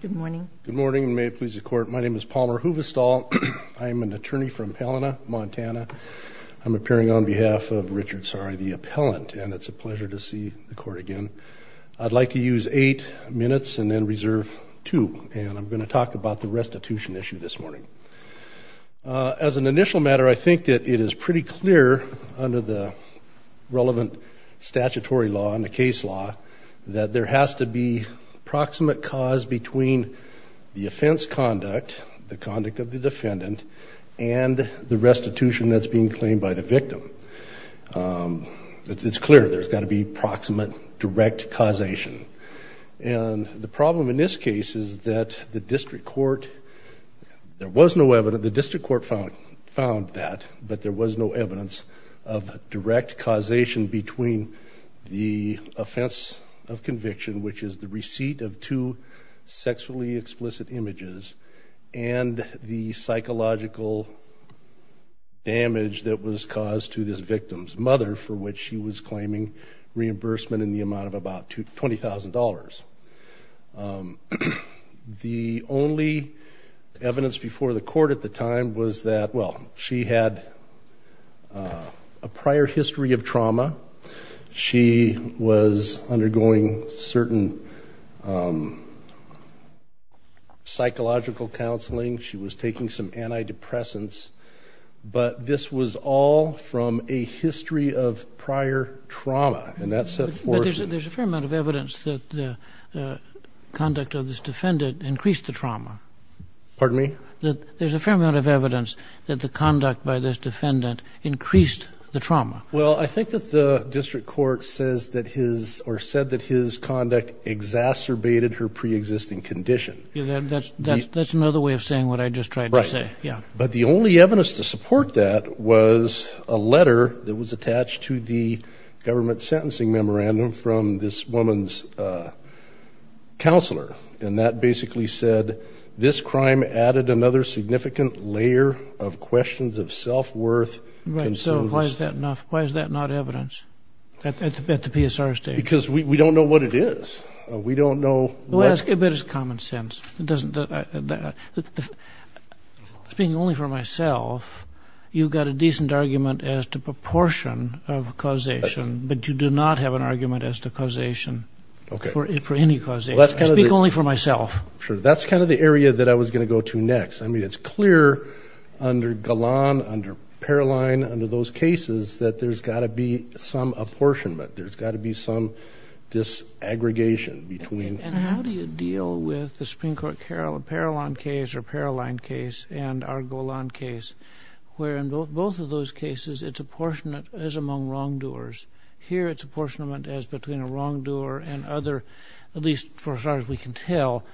Good morning. Good morning. May it please the court. My name is Palmer Huvestal. I'm an attorney from Palina, Montana. I'm appearing on behalf of Richard Saari, the appellant, and it's a pleasure to see the court again. I'd like to use eight minutes and then reserve two, and I'm going to talk about the restitution issue this morning. As an initial matter, I think that it is pretty clear under the relevant statutory law and the case law that there has to be proximate cause between the offense conduct, the conduct of the defendant, and the restitution that's being claimed by the victim. It's clear there's got to be proximate direct causation. And the problem in this case is that the district court, there was no evidence, the district court found that, but there was no evidence of direct causation between the offense of conviction, which is the receipt of two sexually explicit images, and the psychological damage that was caused to this victim's mother, for which she was claiming reimbursement in the amount of about $20,000. The only evidence before the court at the time was that, well, she had a prior history of trauma. She was undergoing certain psychological counseling. She was taking some antidepressants. But this was all from a history of prior trauma, and that set forth. But there's a fair amount of evidence that the conduct of this defendant increased the trauma. Pardon me? There's a fair amount of evidence that the conduct by this defendant increased the trauma. Well, I think that the district court says that his, or said that his conduct exacerbated her preexisting condition. That's another way of saying what I just tried to say. Right. Yeah. But the only evidence to support that was a letter that was attached to the government sentencing memorandum from this woman's counselor. And that basically said, this crime added another significant layer of questions of self-worth. Right. So why is that not evidence at the PSR stage? Because we don't know what it is. We don't know what. But it's common sense. Speaking only for myself, you've got a decent argument as to proportion of causation, but you do not have an argument as to causation for any causation. Speak only for myself. Sure. That's kind of the area that I was going to go to next. I mean, it's clear under Golan, under Paroline, under those cases that there's got to be some apportionment. There's got to be some disaggregation between. And how do you deal with the Supreme Court Paroline case and our Golan case, where in both of those cases it's apportionment as among wrongdoers. Here it's apportionment as between a wrongdoer and other, at least as far as we can tell,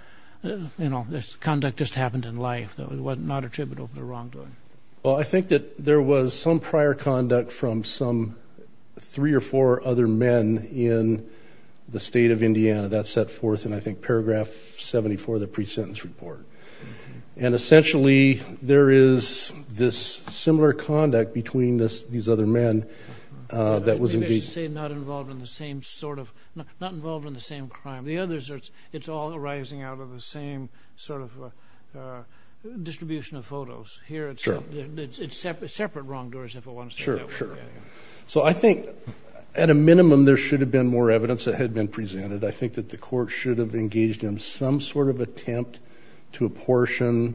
you know, conduct just happened in life. It was not attributable for the wrongdoing. Well, I think that there was some prior conduct from some three or four other men in the state of Indiana. That's set forth in, I think, paragraph 74 of the pre-sentence report. And essentially there is this similar conduct between these other men that was engaged. I think it's to say not involved in the same sort of, not involved in the same crime. The others, it's all arising out of the same sort of distribution of photos. Here it's separate wrongdoers, if I want to say that way. Sure, sure. So I think at a minimum there should have been more evidence that had been presented. I think that the court should have engaged in some sort of attempt to apportion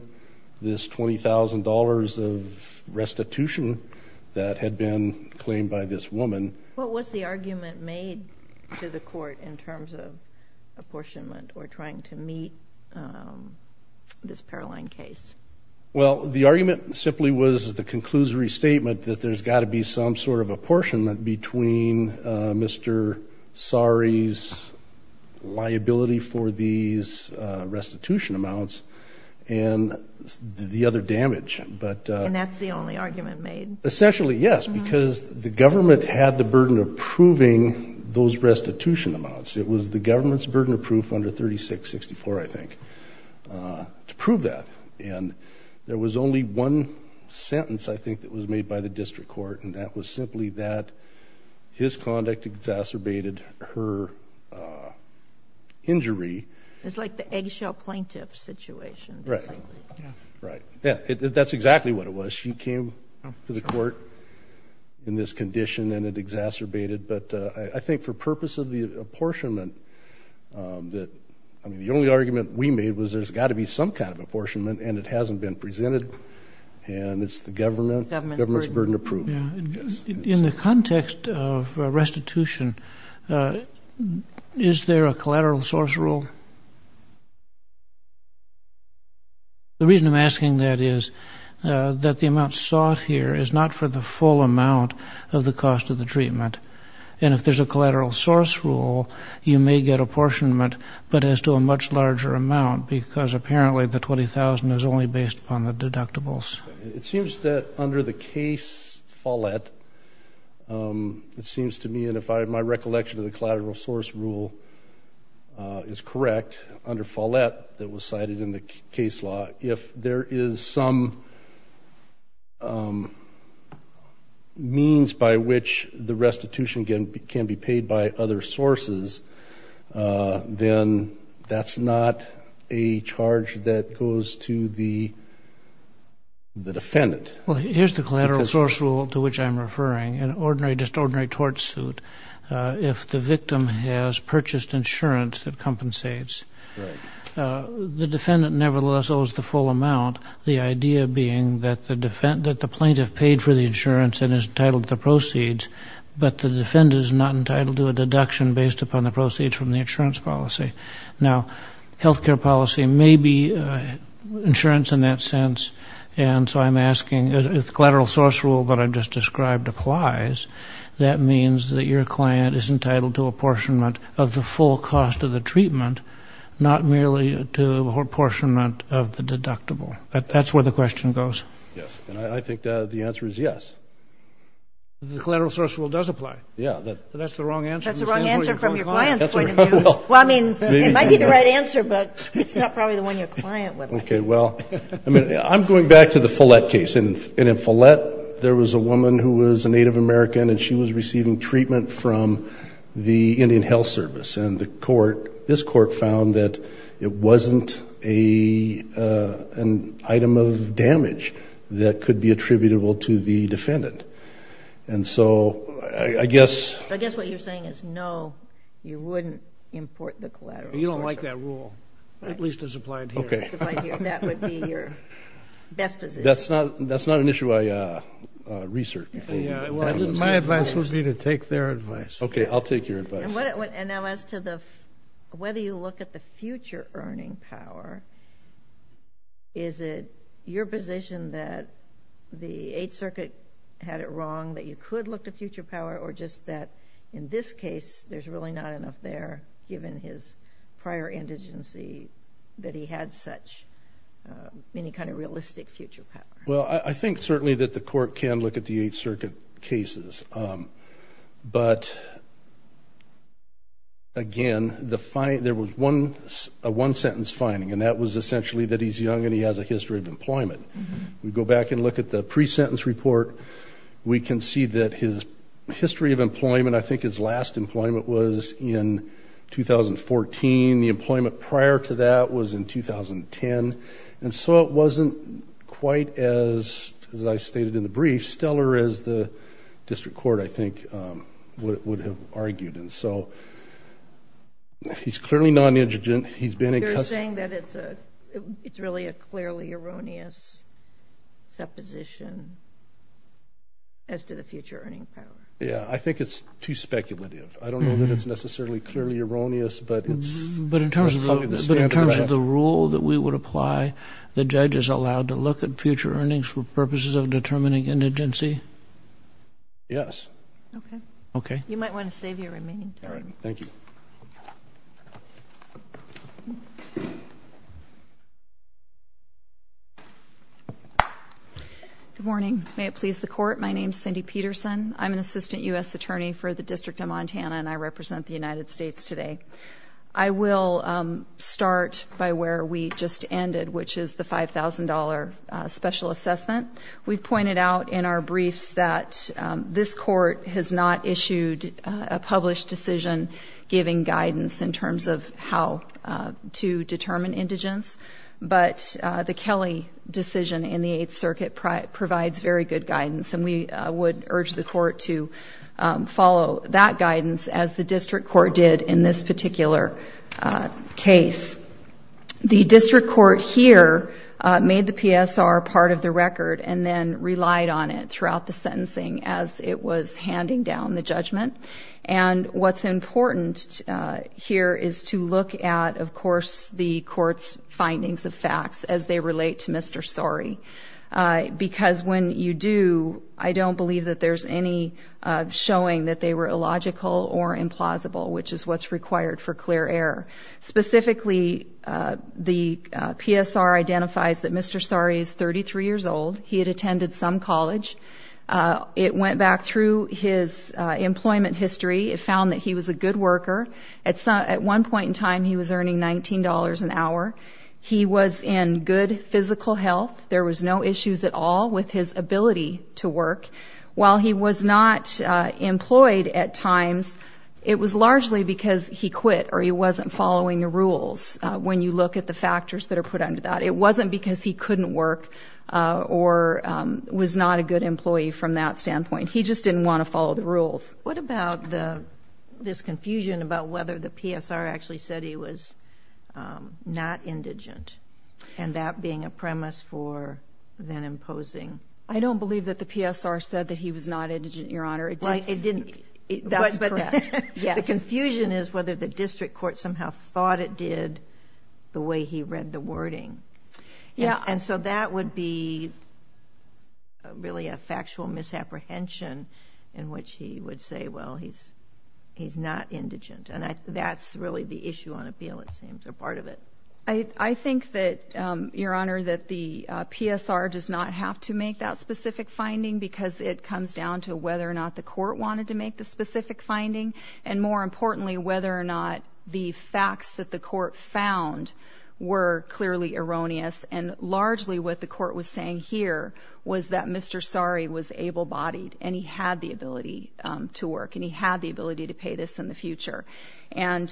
this $20,000 of restitution that had been claimed by this woman. What was the argument made to the court in terms of apportionment or trying to meet this Paroline case? Well, the argument simply was the conclusory statement that there's got to be some sort of apportionment between Mr. Sari's liability for these restitution amounts and the other damage. And that's the only argument made? Essentially, yes, because the government had the burden of proving those restitution amounts. It was the government's burden of proof under 3664, I think, to prove that. And there was only one sentence, I think, that was made by the district court, and that was simply that his conduct exacerbated her injury. It's like the eggshell plaintiff situation, basically. Right. That's exactly what it was. She came to the court in this condition and it exacerbated. But I think for purpose of the apportionment, I mean, the only argument we made was there's got to be some kind of apportionment and it hasn't been presented, and it's the government's burden of proof. In the context of restitution, is there a collateral source rule? The reason I'm asking that is that the amount sought here is not for the full amount of the cost of the treatment. And if there's a collateral source rule, you may get apportionment but as to a much larger amount because apparently the $20,000 is only based upon the deductibles. It seems that under the case Follett, it seems to me, and if my recollection of the collateral source rule is correct, under Follett that was cited in the case law, if there is some means by which the restitution can be paid by other sources, then that's not a charge that goes to the defendant. Well, here's the collateral source rule to which I'm referring. just ordinary tort suit. If the victim has purchased insurance that compensates, the defendant nevertheless owes the full amount, the idea being that the plaintiff paid for the insurance and is entitled to the proceeds, but the defendant is not entitled to a deduction based upon the proceeds from the insurance policy. Now, health care policy may be insurance in that sense, and so I'm asking if the collateral source rule that I just described applies, that means that your client is entitled to apportionment of the full cost of the treatment, not merely to apportionment of the deductible. That's where the question goes. Yes. And I think the answer is yes. The collateral source rule does apply. Yeah. That's the wrong answer. That's the wrong answer from your client's point of view. Well, I mean, it might be the right answer, but it's not probably the one your client would like. Okay, well, I'm going back to the Follett case. And in Follett, there was a woman who was a Native American, and she was receiving treatment from the Indian Health Service. And the court, this court, found that it wasn't an item of damage that could be attributable to the defendant. And so I guess. I guess what you're saying is no, you wouldn't import the collateral. You don't like that rule, at least as applied here. Okay. That would be your best position. That's not an issue I research. My advice would be to take their advice. Okay, I'll take your advice. And now as to whether you look at the future earning power, is it your position that the Eighth Circuit had it wrong, that you could look to future power, or just that in this case, there's really not enough there, given his prior indigency, that he had such any kind of realistic future power? Well, I think certainly that the court can look at the Eighth Circuit cases. But, again, there was a one-sentence finding, and that was essentially that he's young and he has a history of employment. If we go back and look at the pre-sentence report, we can see that his history of employment, I think his last employment was in 2014. The employment prior to that was in 2010. And so it wasn't quite as, as I stated in the brief, stellar as the district court, I think, would have argued. And so he's clearly non-indigent. You're saying that it's really a clearly erroneous supposition as to the future earning power. Yeah, I think it's too speculative. I don't know that it's necessarily clearly erroneous, but it's probably the standard. But in terms of the rule that we would apply, the judge is allowed to look at future earnings for purposes of determining indigency? Yes. Okay. Okay. You might want to save your remaining time. All right. Thank you. Good morning. May it please the Court, my name is Cindy Peterson. I'm an assistant U.S. attorney for the District of Montana, and I represent the United States today. I will start by where we just ended, which is the $5,000 special assessment. We've pointed out in our briefs that this court has not issued a published decision giving guidance in terms of how to determine indigence. But the Kelly decision in the Eighth Circuit provides very good guidance, and we would urge the court to follow that guidance as the district court did in this particular case. The district court here made the PSR part of the record and then relied on it throughout the sentencing as it was handing down the judgment. And what's important here is to look at, of course, the court's findings of facts as they relate to Mr. Sorry. Because when you do, I don't believe that there's any showing that they were illogical or implausible, which is what's required for clear error. Specifically, the PSR identifies that Mr. Sorry is 33 years old. He had attended some college. It went back through his employment history. It found that he was a good worker. At one point in time, he was earning $19 an hour. He was in good physical health. There was no issues at all with his ability to work. While he was not employed at times, it was largely because he quit or he wasn't following the rules, when you look at the factors that are put under that. It wasn't because he couldn't work or was not a good employee from that standpoint. What about this confusion about whether the PSR actually said he was not indigent, and that being a premise for then imposing? I don't believe that the PSR said that he was not indigent, Your Honor. It didn't. That's correct. The confusion is whether the district court somehow thought it did the way he read the wording. And so that would be really a factual misapprehension in which he would say, well, he's not indigent. And that's really the issue on appeal, it seems, or part of it. I think that, Your Honor, that the PSR does not have to make that specific finding because it comes down to whether or not the court wanted to make the specific finding, and, more importantly, whether or not the facts that the court found were clearly erroneous. And largely what the court was saying here was that Mr. Sari was able-bodied, and he had the ability to work, and he had the ability to pay this in the future. And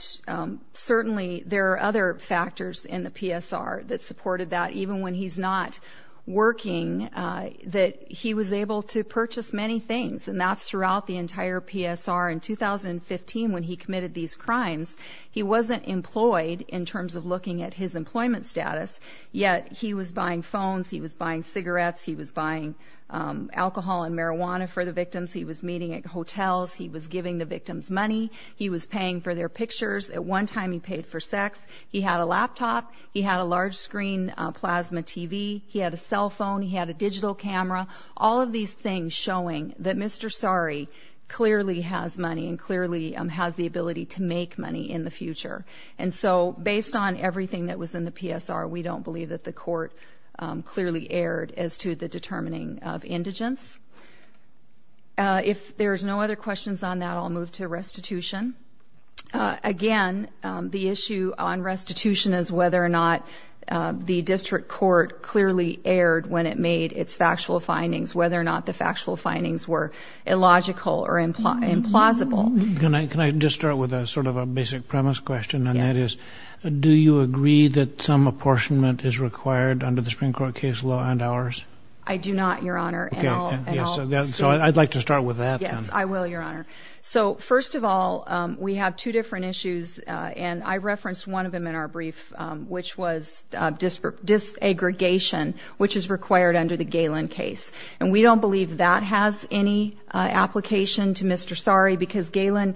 certainly there are other factors in the PSR that supported that, even when he's not working, that he was able to purchase many things, and that's throughout the entire PSR. In 2015, when he committed these crimes, he wasn't employed in terms of looking at his employment status, yet he was buying phones, he was buying cigarettes, he was buying alcohol and marijuana for the victims, he was meeting at hotels, he was giving the victims money, he was paying for their pictures. At one time he paid for sex. He had a laptop, he had a large-screen plasma TV, he had a cell phone, he had a digital camera. All of these things showing that Mr. Sari clearly has money and clearly has the ability to make money in the future. And so based on everything that was in the PSR, we don't believe that the court clearly erred as to the determining of indigence. If there's no other questions on that, I'll move to restitution. Again, the issue on restitution is whether or not the district court clearly erred when it made its factual findings, whether or not the factual findings were illogical or implausible. Can I just start with sort of a basic premise question, and that is, do you agree that some apportionment is required under the Supreme Court case law and ours? I do not, Your Honor. So I'd like to start with that. Yes, I will, Your Honor. So first of all, we have two different issues, and I referenced one of them in our brief, which was disaggregation, which is required under the Galen case. And we don't believe that has any application to Mr. Sari because Galen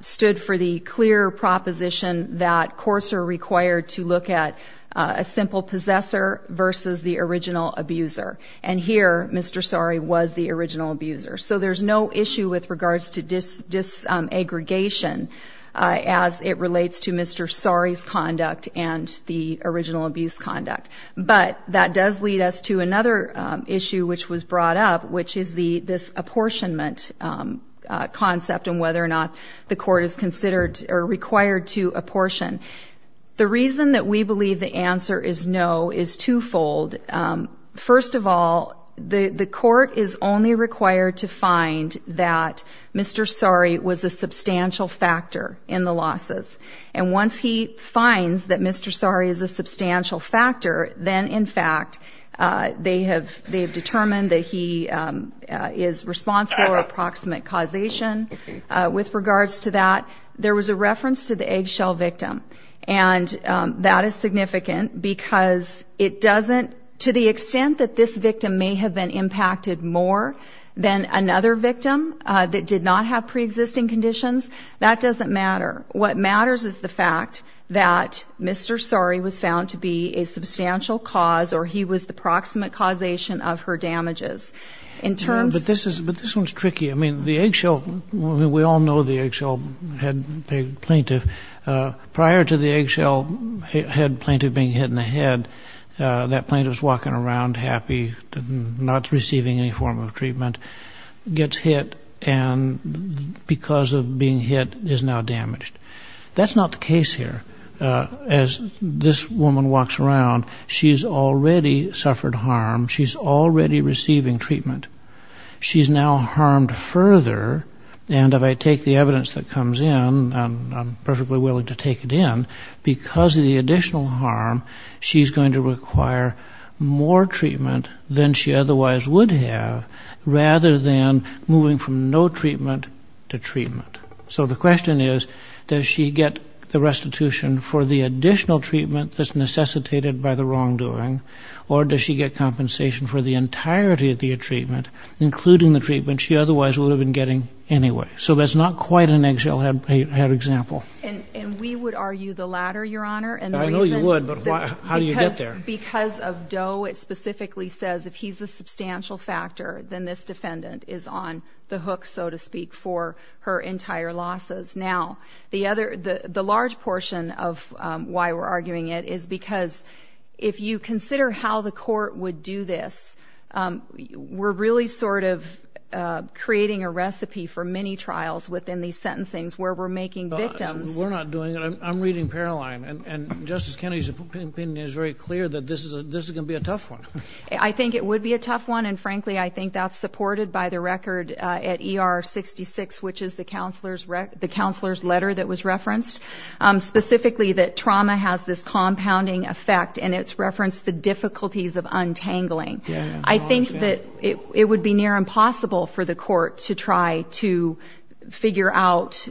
stood for the clear proposition that courts are required to look at a simple possessor versus the original abuser. And here, Mr. Sari was the original abuser. So there's no issue with regards to disaggregation as it relates to Mr. Sari's conduct and the original abuse conduct. But that does lead us to another issue which was brought up, which is this apportionment concept and whether or not the court is considered or required to apportion. The reason that we believe the answer is no is twofold. First of all, the court is only required to find that Mr. Sari was a substantial factor in the losses. And once he finds that Mr. Sari is a substantial factor, then, in fact, they have determined that he is responsible for approximate causation. With regards to that, there was a reference to the eggshell victim, and that is significant because it doesn't, to the extent that this victim may have been impacted more than another victim that did not have preexisting conditions, that doesn't matter. What matters is the fact that Mr. Sari was found to be a substantial cause or he was the approximate causation of her damages. But this one's tricky. I mean, the eggshell, we all know the eggshell plaintiff. Prior to the eggshell plaintiff being hit in the head, that plaintiff's walking around happy, not receiving any form of treatment, gets hit and because of being hit is now damaged. That's not the case here. As this woman walks around, she's already suffered harm. She's already receiving treatment. She's now harmed further. And if I take the evidence that comes in, I'm perfectly willing to take it in, because of the additional harm, she's going to require more treatment than she otherwise would have rather than moving from no treatment to treatment. So the question is, does she get the restitution for the additional treatment that's necessitated by the wrongdoing, or does she get compensation for the entirety of the treatment, including the treatment she otherwise would have been getting anyway? So that's not quite an eggshell head example. And we would argue the latter, Your Honor. I know you would, but how do you get there? Because of Doe, it specifically says if he's a substantial factor, then this defendant is on the hook, so to speak, for her entire losses. Now, the large portion of why we're arguing it is because if you consider how the court would do this, we're really sort of creating a recipe for many trials within these sentencings where we're making victims. We're not doing it. I'm reading Paroline, and Justice Kennedy's opinion is very clear that this is going to be a tough one. I think it would be a tough one, and, frankly, I think that's supported by the record at ER 66, which is the counselor's letter that was referenced, specifically that trauma has this compounding effect, and it's referenced the difficulties of untangling. I think that it would be near impossible for the court to try to figure out,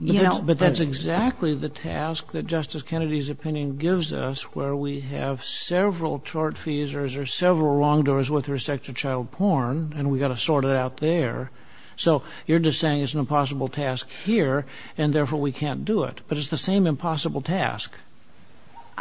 you know. But that's exactly the task that Justice Kennedy's opinion gives us, where we have several tort feasers or several wrongdoers with respect to child porn, and we've got to sort it out there. So you're just saying it's an impossible task here, and, therefore, we can't do it. But it's the same impossible task.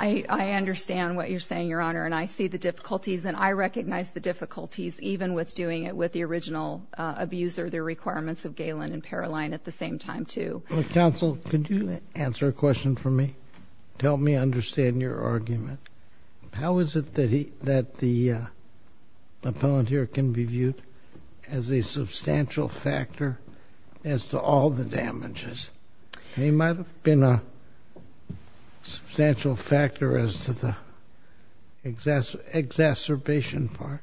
I understand what you're saying, Your Honor, and I see the difficulties, and I recognize the difficulties even with doing it with the original abuser, the requirements of Galen and Paroline at the same time, too. Counsel, could you answer a question for me to help me understand your argument? How is it that the appellant here can be viewed as a substantial factor as to all the damages? He might have been a substantial factor as to the exacerbation part,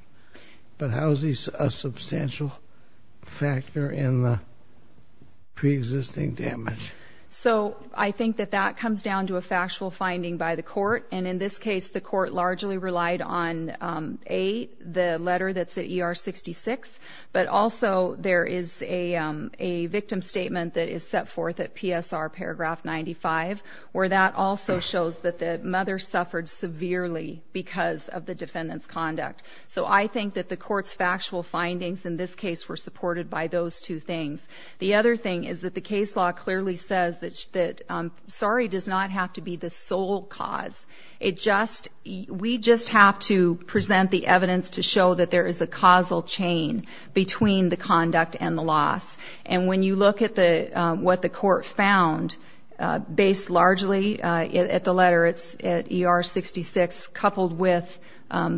but how is he a substantial factor in the preexisting damage? So I think that that comes down to a factual finding by the court, and in this case the court largely relied on, A, the letter that's at ER 66, but also there is a victim statement that is set forth at PSR paragraph 95, where that also shows that the mother suffered severely because of the defendant's conduct. So I think that the court's factual findings in this case were supported by those two things. The other thing is that the case law clearly says that sorry does not have to be the sole cause. We just have to present the evidence to show that there is a causal chain between the conduct and the loss. And when you look at what the court found, based largely at the letter at ER 66, coupled with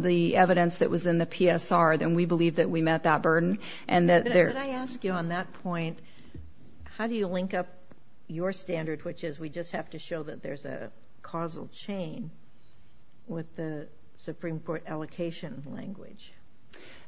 the evidence that was in the PSR, then we believe that we met that burden. Could I ask you on that point, how do you link up your standard, which is we just have to show that there's a causal chain with the Supreme Court allocation language?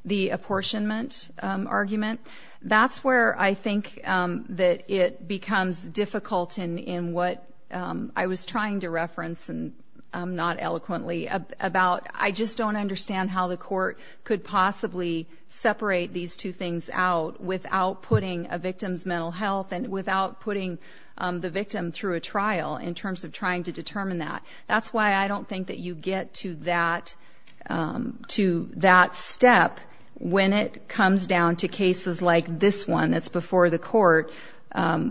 The apportionment argument, that's where I think that it becomes difficult in what I was trying to reference, and not eloquently, about I just don't understand how the court could possibly separate these two things out without putting a victim's mental health and without putting the victim through a trial in terms of trying to determine that. That's why I don't think that you get to that step when it comes down to cases like this one that's before the court,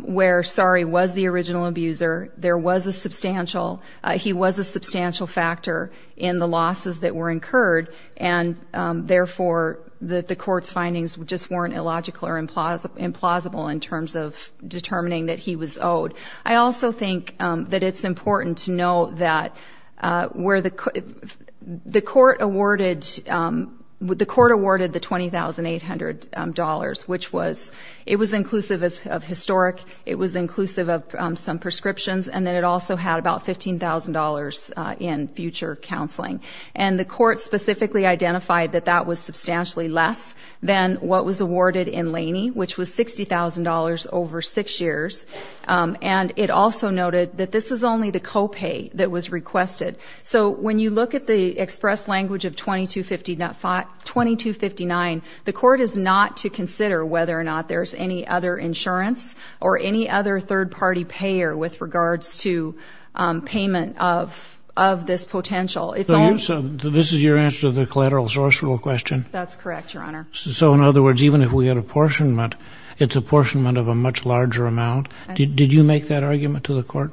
where sorry was the original abuser, there was a substantial, he was a substantial factor in the losses that were incurred, and therefore the court's findings just weren't illogical or implausible in terms of determining that he was owed. I also think that it's important to note that where the court awarded, the court awarded the $20,800, which was, it was inclusive of historic, it was inclusive of some prescriptions, and then it also had about $15,000 in future counseling. And the court specifically identified that that was substantially less than what was awarded in Laney, which was $60,000 over six years, and it also noted that this is only the co-pay that was requested. So when you look at the express language of 2259, the court is not to consider whether or not there's any other insurance or any other third-party payer with regards to payment of this potential. So this is your answer to the collateral source rule question? That's correct, Your Honor. So in other words, even if we had apportionment, it's apportionment of a much larger amount? Did you make that argument to the court?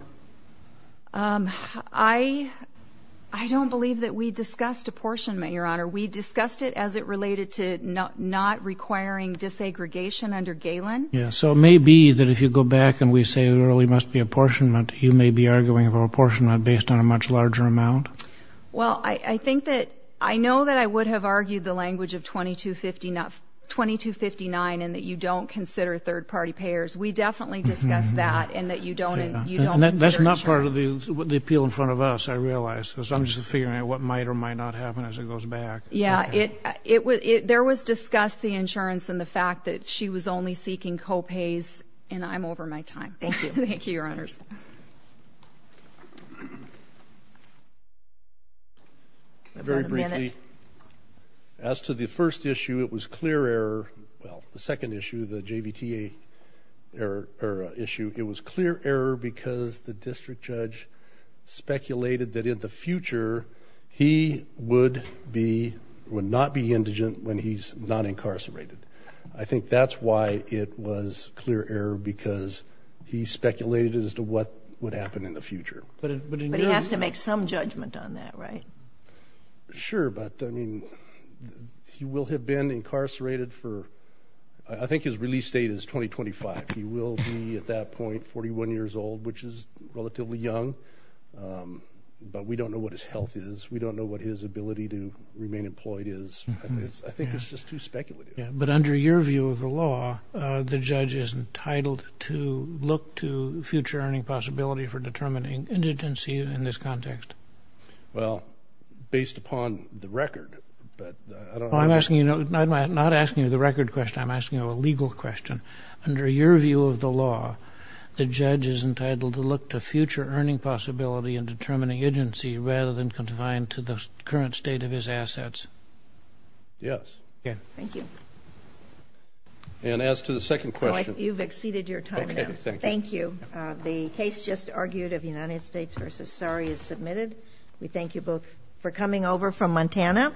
I don't believe that we discussed apportionment, Your Honor. We discussed it as it related to not requiring disaggregation under Galen. Yes. So it may be that if you go back and we say there really must be apportionment, you may be arguing for apportionment based on a much larger amount? Well, I think that I know that I would have argued the language of 2259 and that you don't consider third-party payers. We definitely discussed that and that you don't. And that's not part of the appeal in front of us, I realize, because I'm just figuring out what might or might not happen as it goes back. Yeah, there was discussed the insurance and the fact that she was only seeking co-pays, and I'm over my time. Thank you. Thank you, Your Honors. Very briefly, as to the first issue, it was clear error. Well, the second issue, the JVTA issue, it was clear error because the district judge speculated that in the future, he would not be indigent when he's not incarcerated. I think that's why it was clear error, because he speculated as to what would happen in the future. But he has to make some judgment on that, right? Sure, but, I mean, he will have been incarcerated for – I think his release date is 2025. He will be, at that point, 41 years old, which is relatively young. But we don't know what his health is. We don't know what his ability to remain employed is. I think it's just too speculative. But under your view of the law, the judge is entitled to look to future earning possibility for determining indigency in this context. Well, based upon the record. I'm not asking you the record question. I'm asking you a legal question. Under your view of the law, the judge is entitled to look to future earning possibility in determining indigency rather than confined to the current state of his assets. Yes. Thank you. And as to the second question. You've exceeded your time now. Thank you. The case just argued of United States v. Surrey is submitted. We thank you both for coming over from Montana.